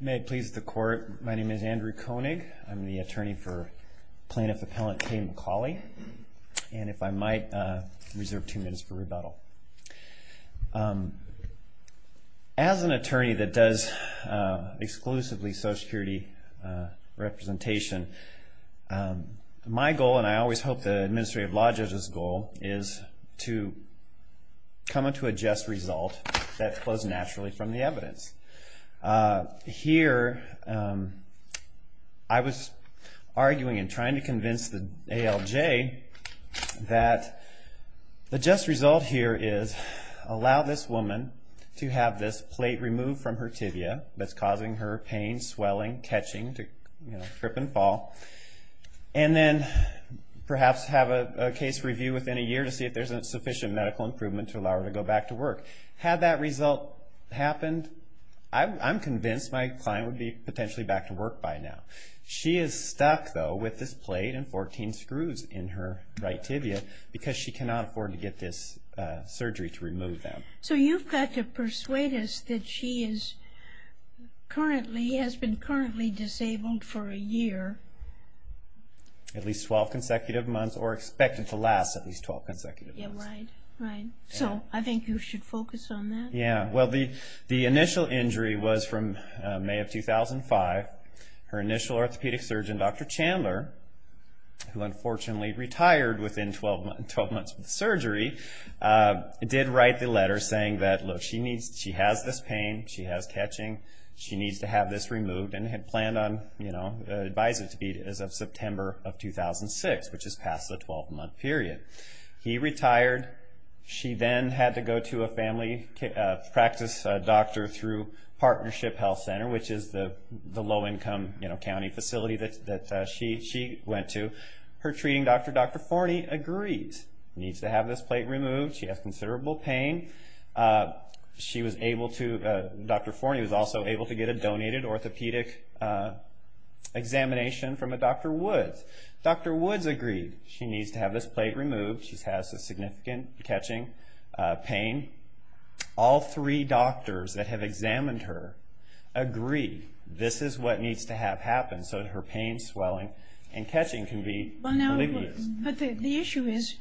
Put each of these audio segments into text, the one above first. May it please the court, my name is Andrew Koenig. I'm the attorney for plaintiff appellant Kay McCawley, and if I might reserve two minutes for rebuttal. As an attorney that does exclusively Social Security representation, my goal, and I always hope the administrative law judge's goal, is to come up to a just result that flows naturally from the evidence. Here I was arguing and trying to convince the ALJ that the just result here is allow this woman to have this plate removed from her tibia that's causing her pain, swelling, catching, trip and fall, and then perhaps have a case review within a year to see if there's sufficient medical improvement to allow her to go back to work. Had that result happened, I'm convinced my client would be potentially back to work by now. She is stuck though with this plate and 14 screws in her right tibia because she cannot afford to get this surgery to remove them. So you've got to persuade us that she is currently, has been currently disabled for a year? At least 12 consecutive months, or expected to last at least 12 consecutive months. So I think you should focus on that? The initial injury was from May of 2005. Her initial orthopedic surgeon, Dr. Chandler, who unfortunately retired within 12 months of the surgery, did write the letter saying that she has this pain, she has catching, she needs to have this which is past the 12-month period. He retired. She then had to go to a family practice doctor through Partnership Health Center, which is the low-income county facility that she went to. Her treating doctor, Dr. Forney, agreed. Needs to have this plate removed. She has considerable pain. She was able to, Dr. Forney was also able to get a donated orthopedic examination from a Dr. Woods. Dr. Woods agreed. She needs to have this plate removed. She has a significant catching pain. All three doctors that have examined her agree this is what needs to have happen so that her pain, swelling, and catching can be relieved. But the issue is,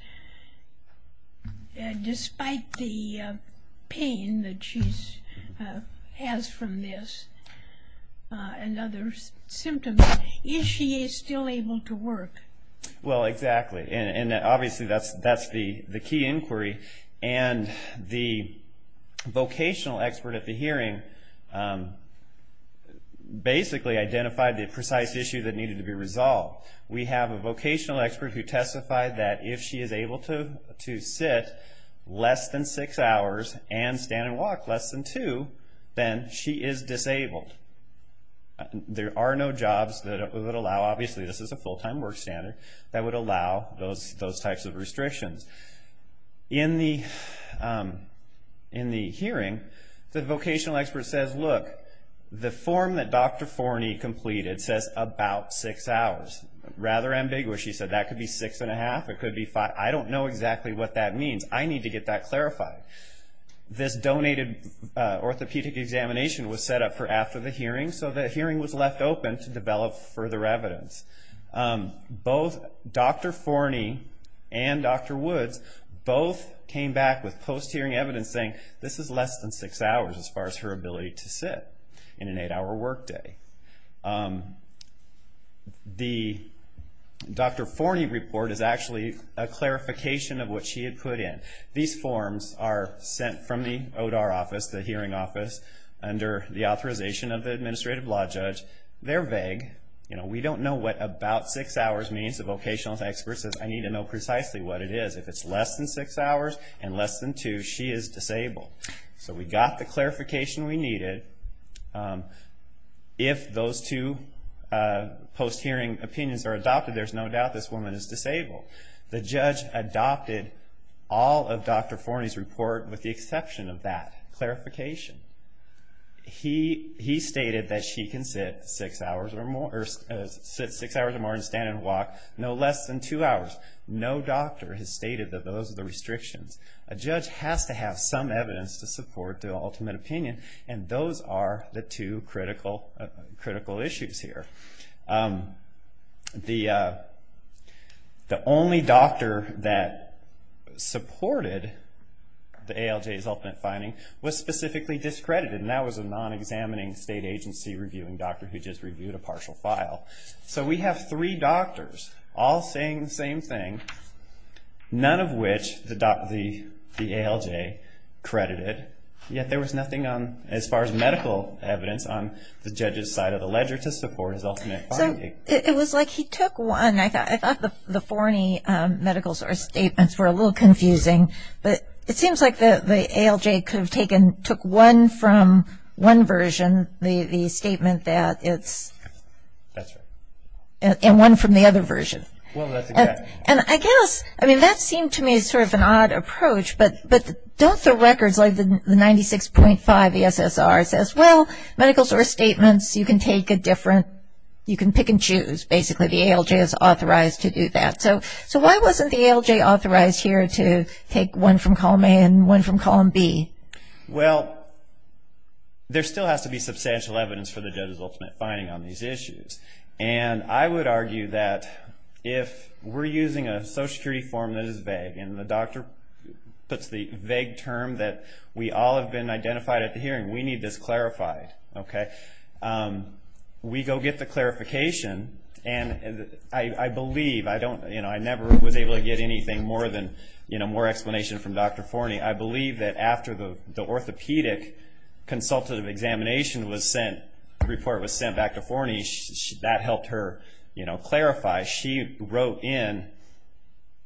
despite the pain that she has from this and other symptoms, is she still able to work? Well, exactly. And obviously that's the key inquiry. And the vocational expert at the hearing basically identified the precise issue that needed to be resolved. We have a vocational expert who testified that if she is able to sit less than six hours and stand and walk less than two, then she is disabled. There are no jobs that would allow, obviously this is a full-time work standard, that would allow those types of restrictions. In the hearing, the vocational expert says, look, the form that Dr. Forney completed says about six hours. Rather ambiguous, she said, that could be six and a half, it could be five. I don't know exactly what that means. I need to get that clarified. This donated orthopedic examination was set up for after the hearing, so the hearing was left open to develop further evidence. Both Dr. Forney and Dr. Woods both came back with post-hearing evidence saying this is less than six hours as far as her ability to sit in an eight-hour workday. The Dr. Forney report is actually a clarification of what she had put in. These forms are sent from the hearing office under the authorization of the administrative law judge. They're vague. We don't know what about six hours means. The vocational expert says, I need to know precisely what it is. If it's less than six hours and less than two, she is disabled. We got the clarification we needed. If those two post-hearing opinions are adopted, there's no doubt this woman is disabled. The judge adopted all of Dr. Forney's report with the exception of that clarification. He stated that she can sit six hours or more and stand and walk no less than two hours. No doctor has stated that those are the restrictions. A judge has to have some evidence to support the ultimate opinion, and those are the two critical issues here. The only doctor that supported the ALJ's ultimate finding was specifically discredited, and that was a non-examining state agency reviewing doctor who just reviewed a partial file. We have three doctors all saying the same thing, none of which the ALJ credited, yet there was nothing as far as a ledger to support his ultimate finding. So, it was like he took one. I thought the Forney medical source statements were a little confusing, but it seems like the ALJ could have taken, took one from one version, the statement that it's, and one from the other version. Well, that's exactly right. And I guess, I mean, that seemed to me sort of an odd approach, but don't throw records like the 96.5 ESSR says, well, medical source statements, you can take a different, you can pick and choose. Basically, the ALJ is authorized to do that. So, why wasn't the ALJ authorized here to take one from column A and one from column B? Well, there still has to be substantial evidence for the judge's ultimate finding on these issues, and I would argue that if we're using a Social Security form that is vague, and the doctor puts the vague term that we all have been identified at the hearing, we need this clarified, okay? We go get the clarification, and I believe, I don't, you know, I never was able to get anything more than, you know, more explanation from Dr. Forney. I believe that after the orthopedic consultative examination was sent, report was sent back to Forney, that helped her, you know, clarify. She wrote in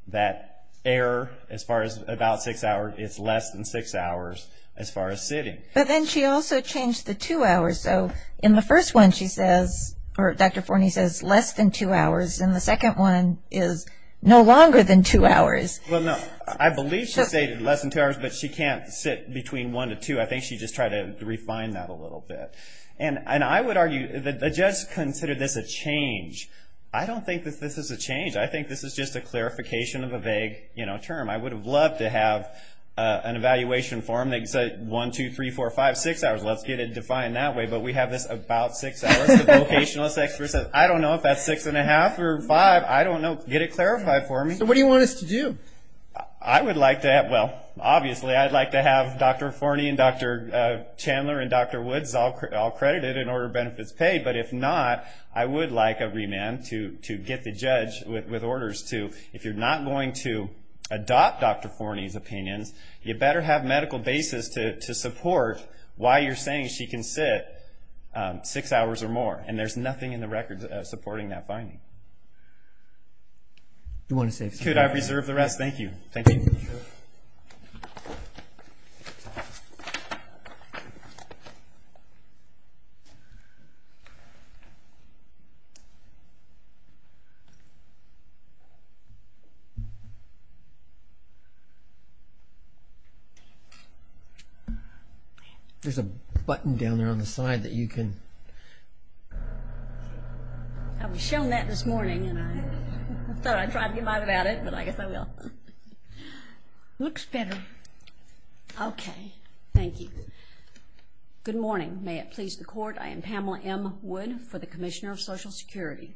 that error, as far as about six hours, it's less than six hours as far as sitting. But then she also changed the two hours. So, in the first one, she says, or Dr. Forney says, less than two hours, and the second one is no longer than two hours. Well, no. I believe she stated less than two hours, but she can't sit between one to two. I think she just tried to refine that a little bit, and I would argue that the judge considered this a change. I don't think that this is a change. I think this is just a clarification of a vague, you know, term. I would have loved to have an evaluation form that said, one, two, three, four, five, six hours. Let's get it defined that way, but we have this about six hours. The vocationalist expert says, I don't know if that's six and a half or five. I don't know. Get it clarified for me. So, what do you want us to do? I would like to have, well, obviously, I'd like to have Dr. Forney and Dr. Chandler and Dr. Woods all credited and order benefits paid, but if not, I would like a remand to get the judge with orders to, if you're not going to adopt Dr. Forney's opinions, you better have medical basis to support why you're saying she can sit six hours or more, and there's nothing in the record supporting that finding. Do you want to save some time? Thank you. Thank you. There's a button down there on the side that you can... I was shown that this morning, and I thought I'd try to get by without it, but I guess I will. Looks better. Okay. Thank you. Good morning. May it please the Court, I am Pamela M. Wood for the Commissioner of Social Security.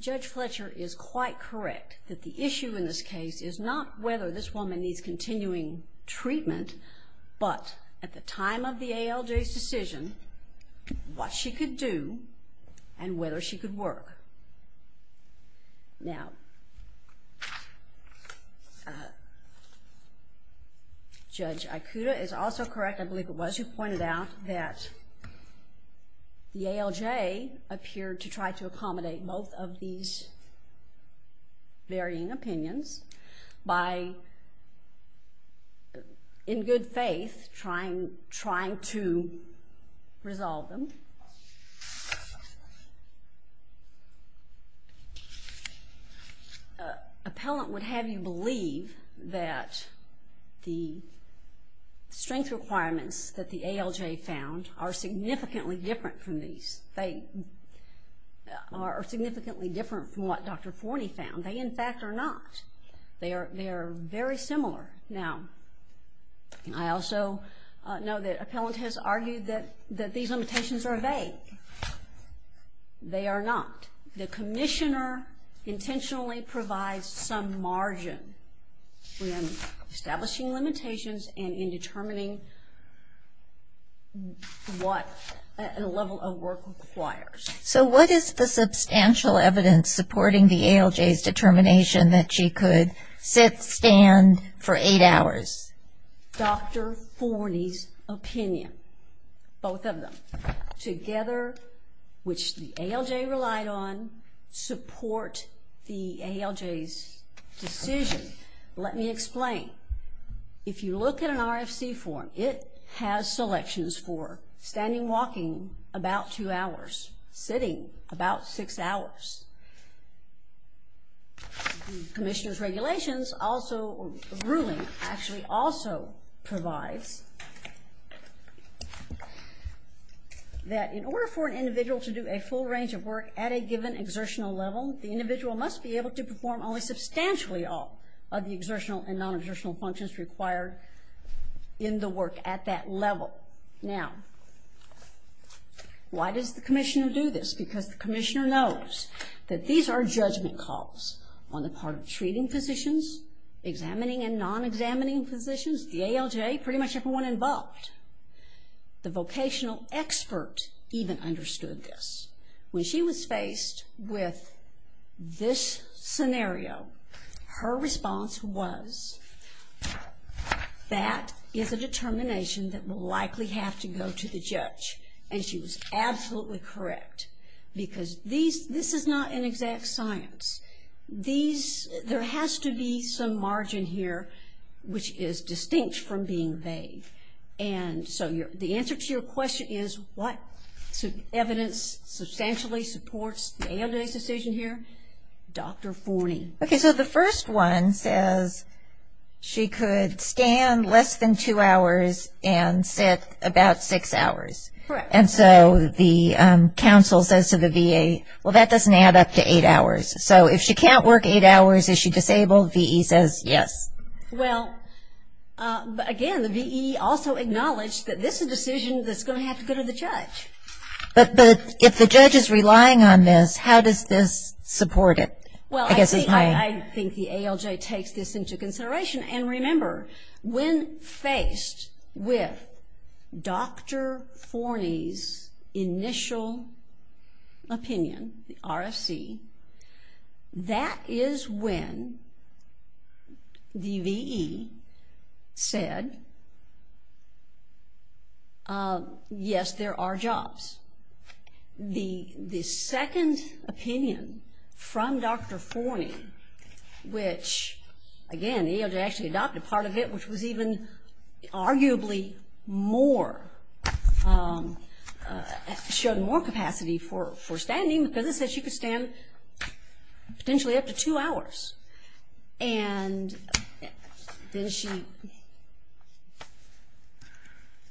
Judge Fletcher is quite correct that the issue in this case is not whether this woman needs continuing treatment, but at the time of the ALJ's decision, what she could do, and whether she could work. Now, Judge Ikuda is also correct, I believe it was, who pointed out that the ALJ appeared to try to accommodate both of these varying opinions by, in good faith, trying to resolve them. Appellant would have you believe that the strength requirements that the ALJ found are significantly different from these. They are significantly different from what Dr. Forney found. They, in fact, are not. They are very similar. Now, I also know that Appellant has argued that these limitations are vague. They are not. The Commissioner intentionally provides some margin in establishing limitations and in determining what level of work requires. So what is the substantial evidence supporting the ALJ's determination that she could sit, stand for eight hours? Dr. Forney's opinion, both of them, together, which the ALJ relied on, support the ALJ's decision. Let me explain. If you look at an RFC form, it has selections for standing, walking, about two hours, sitting, about six hours. The Commissioner's regulations also, ruling, actually also provides that in order for an individual to do a full range of work at a given exertional level, the individual must be able to perform only substantially all of the exertional and non-exertional functions required in the work at that level. Now, why does the Commissioner do this? It's because the Commissioner knows that these are judgment calls on the part of treating physicians, examining and non-examining physicians, the ALJ, pretty much everyone involved. The vocational expert even understood this. When she was faced with this scenario, her response was, that is a determination that will likely have to go to the judge. And she was absolutely correct, because this is not an exact science. There has to be some margin here which is distinct from being vague. And so the answer to your question is, what evidence substantially supports the ALJ's decision here? Dr. Forney. Okay, so the first one says she could stand less than two hours and sit about six hours. Correct. And so the counsel says to the VA, well, that doesn't add up to eight hours. So if she can't work eight hours, is she disabled? VE says yes. Well, again, the VE also acknowledged that this is a decision that's going to have to go to the judge. But if the judge is relying on this, how does this support it? Well, I think the ALJ takes this into consideration. And remember, when faced with Dr. Forney's initial opinion, the RFC, that is when the VE said, yes, there are jobs. The second opinion from Dr. Forney, which, again, the ALJ actually adopted part of it, which was even arguably more, showed more capacity for standing because it said she could stand potentially up to two hours. And then she,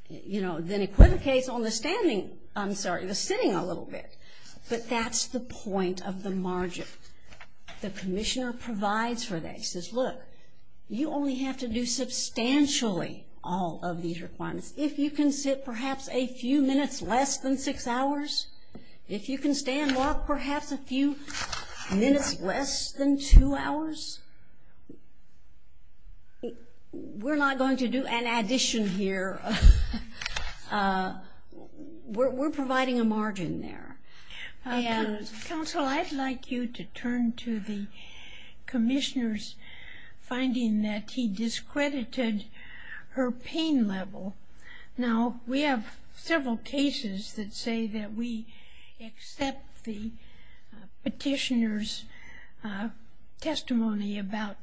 you know, then equivocates on the standing, I'm sorry, the sitting a little bit. But that's the point of the margin. The commissioner provides for that. He says, look, you only have to do substantially all of these requirements. If you can sit perhaps a few minutes less than six hours, if you can stand or walk perhaps a few minutes less than two hours, we're not going to do an addition here. We're providing a margin there. Counsel, I'd like you to turn to the commissioner's finding that he discredited her pain level. Now, we have several cases that say that we accept the petitioner's testimony about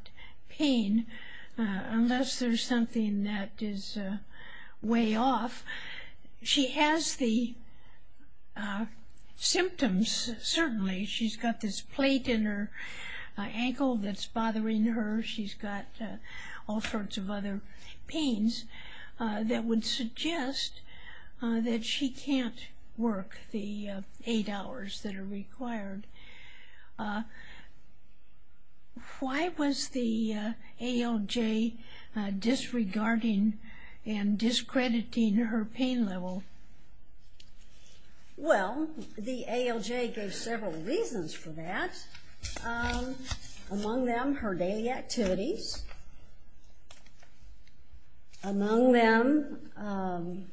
pain unless there's something that is way off. She has the symptoms, certainly. She's got this plate in her ankle that's bothering her. She's got all sorts of other pains that would suggest that she can't work the eight hours that are required. Why was the ALJ disregarding and discrediting her pain level? Well, the ALJ gave several reasons for that. Among them, her daily activities. Among them...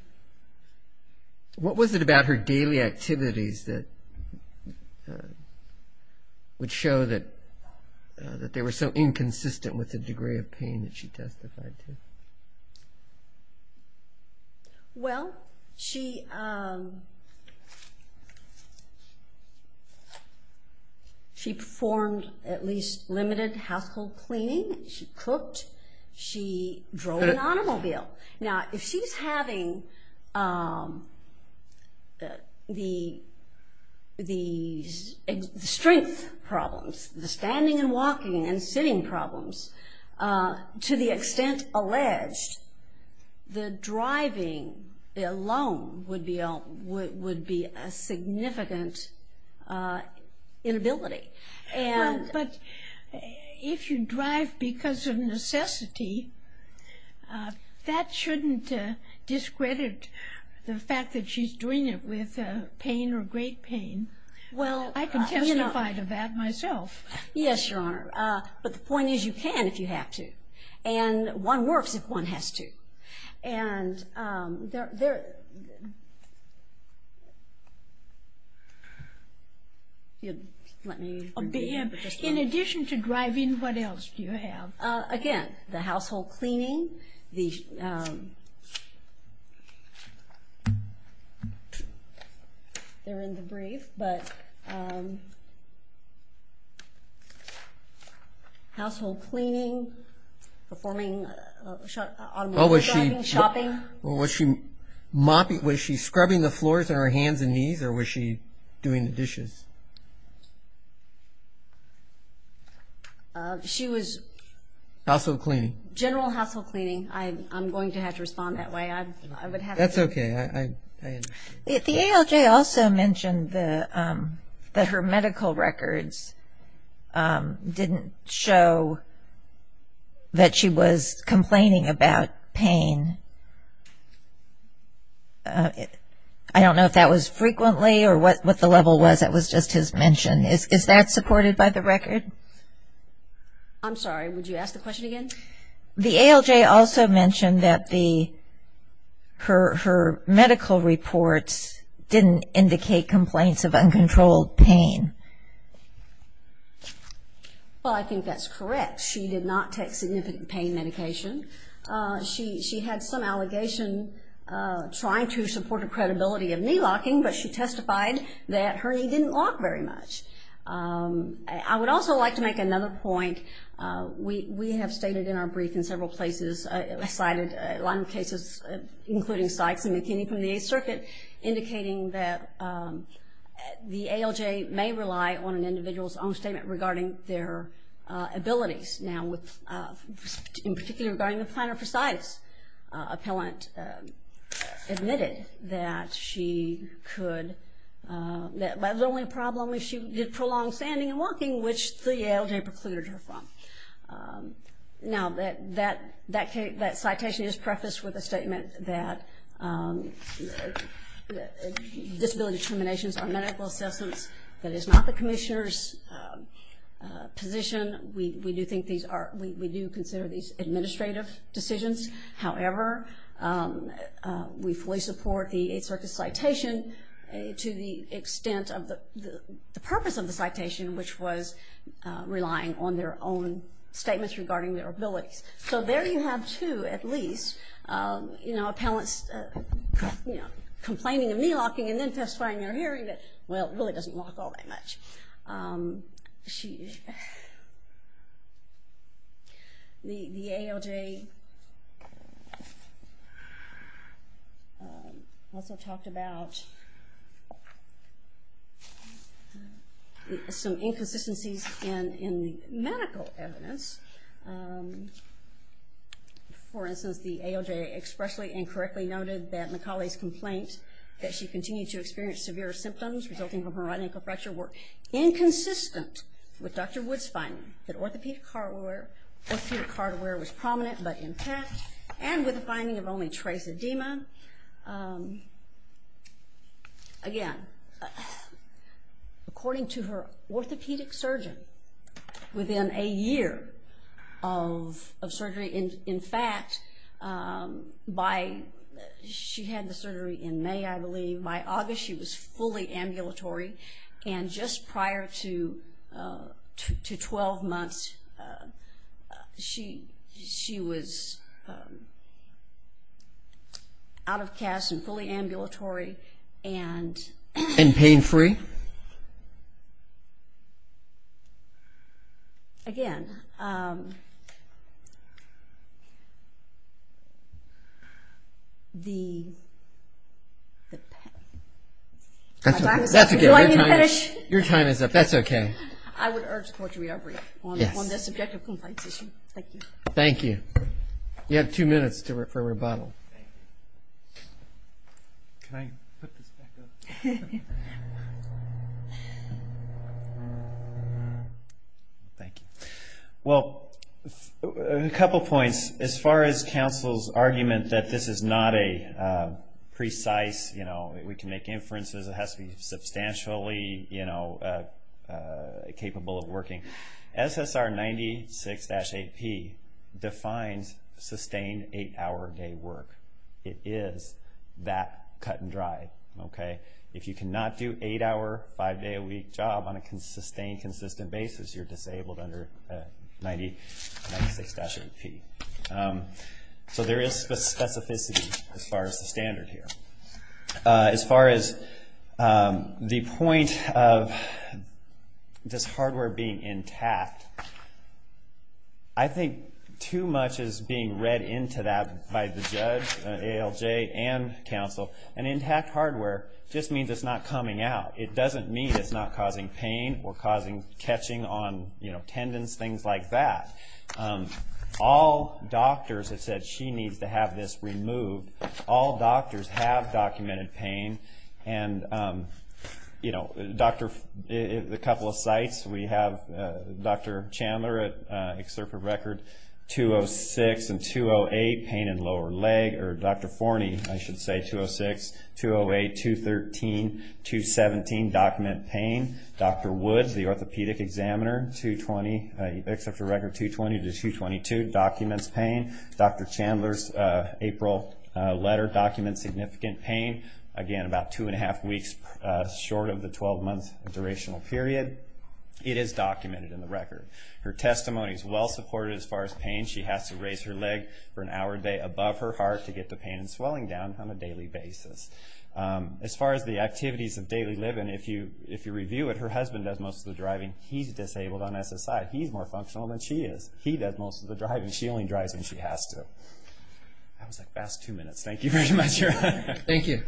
What was it about her daily activities that would show that they were so inconsistent with the degree of pain that she testified to? Well, she... She performed at least limited household cleaning. She cooked. She drove an automobile. Now, if she's having the strength problems, the standing and walking and sitting problems, to the extent alleged, the driving alone would be a significant inability. Well, but if you drive because of necessity, that shouldn't discredit the fact that she's doing it with pain or great pain. I can testify to that myself. Yes, Your Honor. But the point is you can if you have to. And one works if one has to. In addition to driving, what else do you have? Again, the household cleaning. The... They're in the brief, but... Household cleaning, performing... Oh, was she... Shopping. Was she scrubbing the floors and her hands and knees or was she doing the dishes? She was... Household cleaning. General household cleaning. I'm going to have to respond that way. I would have to... That's okay. I understand. The ALJ also mentioned that her medical records didn't show that she was complaining about pain. I don't know if that was frequently or what the level was. That was just his mention. Is that supported by the record? I'm sorry. Would you ask the question again? The ALJ also mentioned that her medical reports didn't indicate complaints of uncontrolled pain. Well, I think that's correct. She did not take significant pain medication. She had some allegation trying to support the credibility of knee locking, but she testified that her knee didn't lock very much. I would also like to make another point. We have stated in our brief in several places, cited a lot of cases including Sykes and McKinney from the Eighth Circuit, indicating that the ALJ may rely on an individual's own statement regarding their abilities. Now, in particular regarding the plantar fasciitis, appellant admitted that she could... The only problem is she did prolonged standing and walking, which the ALJ procluded her from. Now, that citation is prefaced with a statement that disability determinations are medical assessments. That is not the commissioner's position. We do consider these administrative decisions. However, we fully support the Eighth Circuit's citation to the extent of the purpose of the citation, which was relying on their own statements regarding their abilities. So there you have two, at least, appellants complaining of knee locking and then testifying in their hearing that, well, it really doesn't lock all that much. She... The ALJ also talked about some inconsistencies in medical evidence. For instance, the ALJ expressly and correctly noted that Macaulay's complaint that she continued to experience severe symptoms resulting from her right ankle fracture were inconsistent with Dr. Wood's finding that orthopedic hardware was prominent but intact and with the finding of only trace edema. Again, according to her orthopedic surgeon, within a year of surgery, in fact, by... She had the surgery in May, I believe. By August, she was fully ambulatory and just prior to 12 months, she was out of cast and fully ambulatory and... And pain-free? Again... The... Do you want me to finish? Your time is up. That's okay. I would urge the Court to re-operate on the subjective complaints issue. Thank you. Thank you. You have two minutes for rebuttal. Can I put this back up? Thank you. Well, a couple points. As far as counsel's argument that this is not a precise... We can make inferences. It has to be substantially capable of working. SSR 96-8P defines sustained eight-hour-a-day work. It is that cut and dry, okay? If you cannot do eight-hour, five-day-a-week job on a sustained, consistent basis, you're disabled under 96-8P. So there is specificity as far as the standard here. As far as the point of this hardware being intact, I think too much is being read into that by the judge, ALJ, and counsel. An intact hardware just means it's not coming out. It doesn't mean it's not causing pain or catching on tendons, things like that. All doctors have said she needs to have this removed. All doctors have documented pain. And a couple of sites, we have Dr. Chandler at Excerptive Record, 206 and 208 pain in lower leg, or Dr. Forney, I should say, 206, 208, 213, 217, document pain. Dr. Woods, the orthopedic examiner, 220, Excerptive Record 220 to 222, documents pain. Dr. Chandler's April letter documents significant pain. Again, about two and a half weeks short of the 12-month durational period. It is documented in the record. Her testimony is well-supported as far as pain. She has to raise her leg for an hour a day above her heart to get the pain and swelling down on a daily basis. As far as the activities of daily living, if you review it, her husband does most of the driving. He's disabled on SSI. He's more functional than she is. He does most of the driving. She only drives when she has to. That was the past two minutes. Thank you very much. Thank you.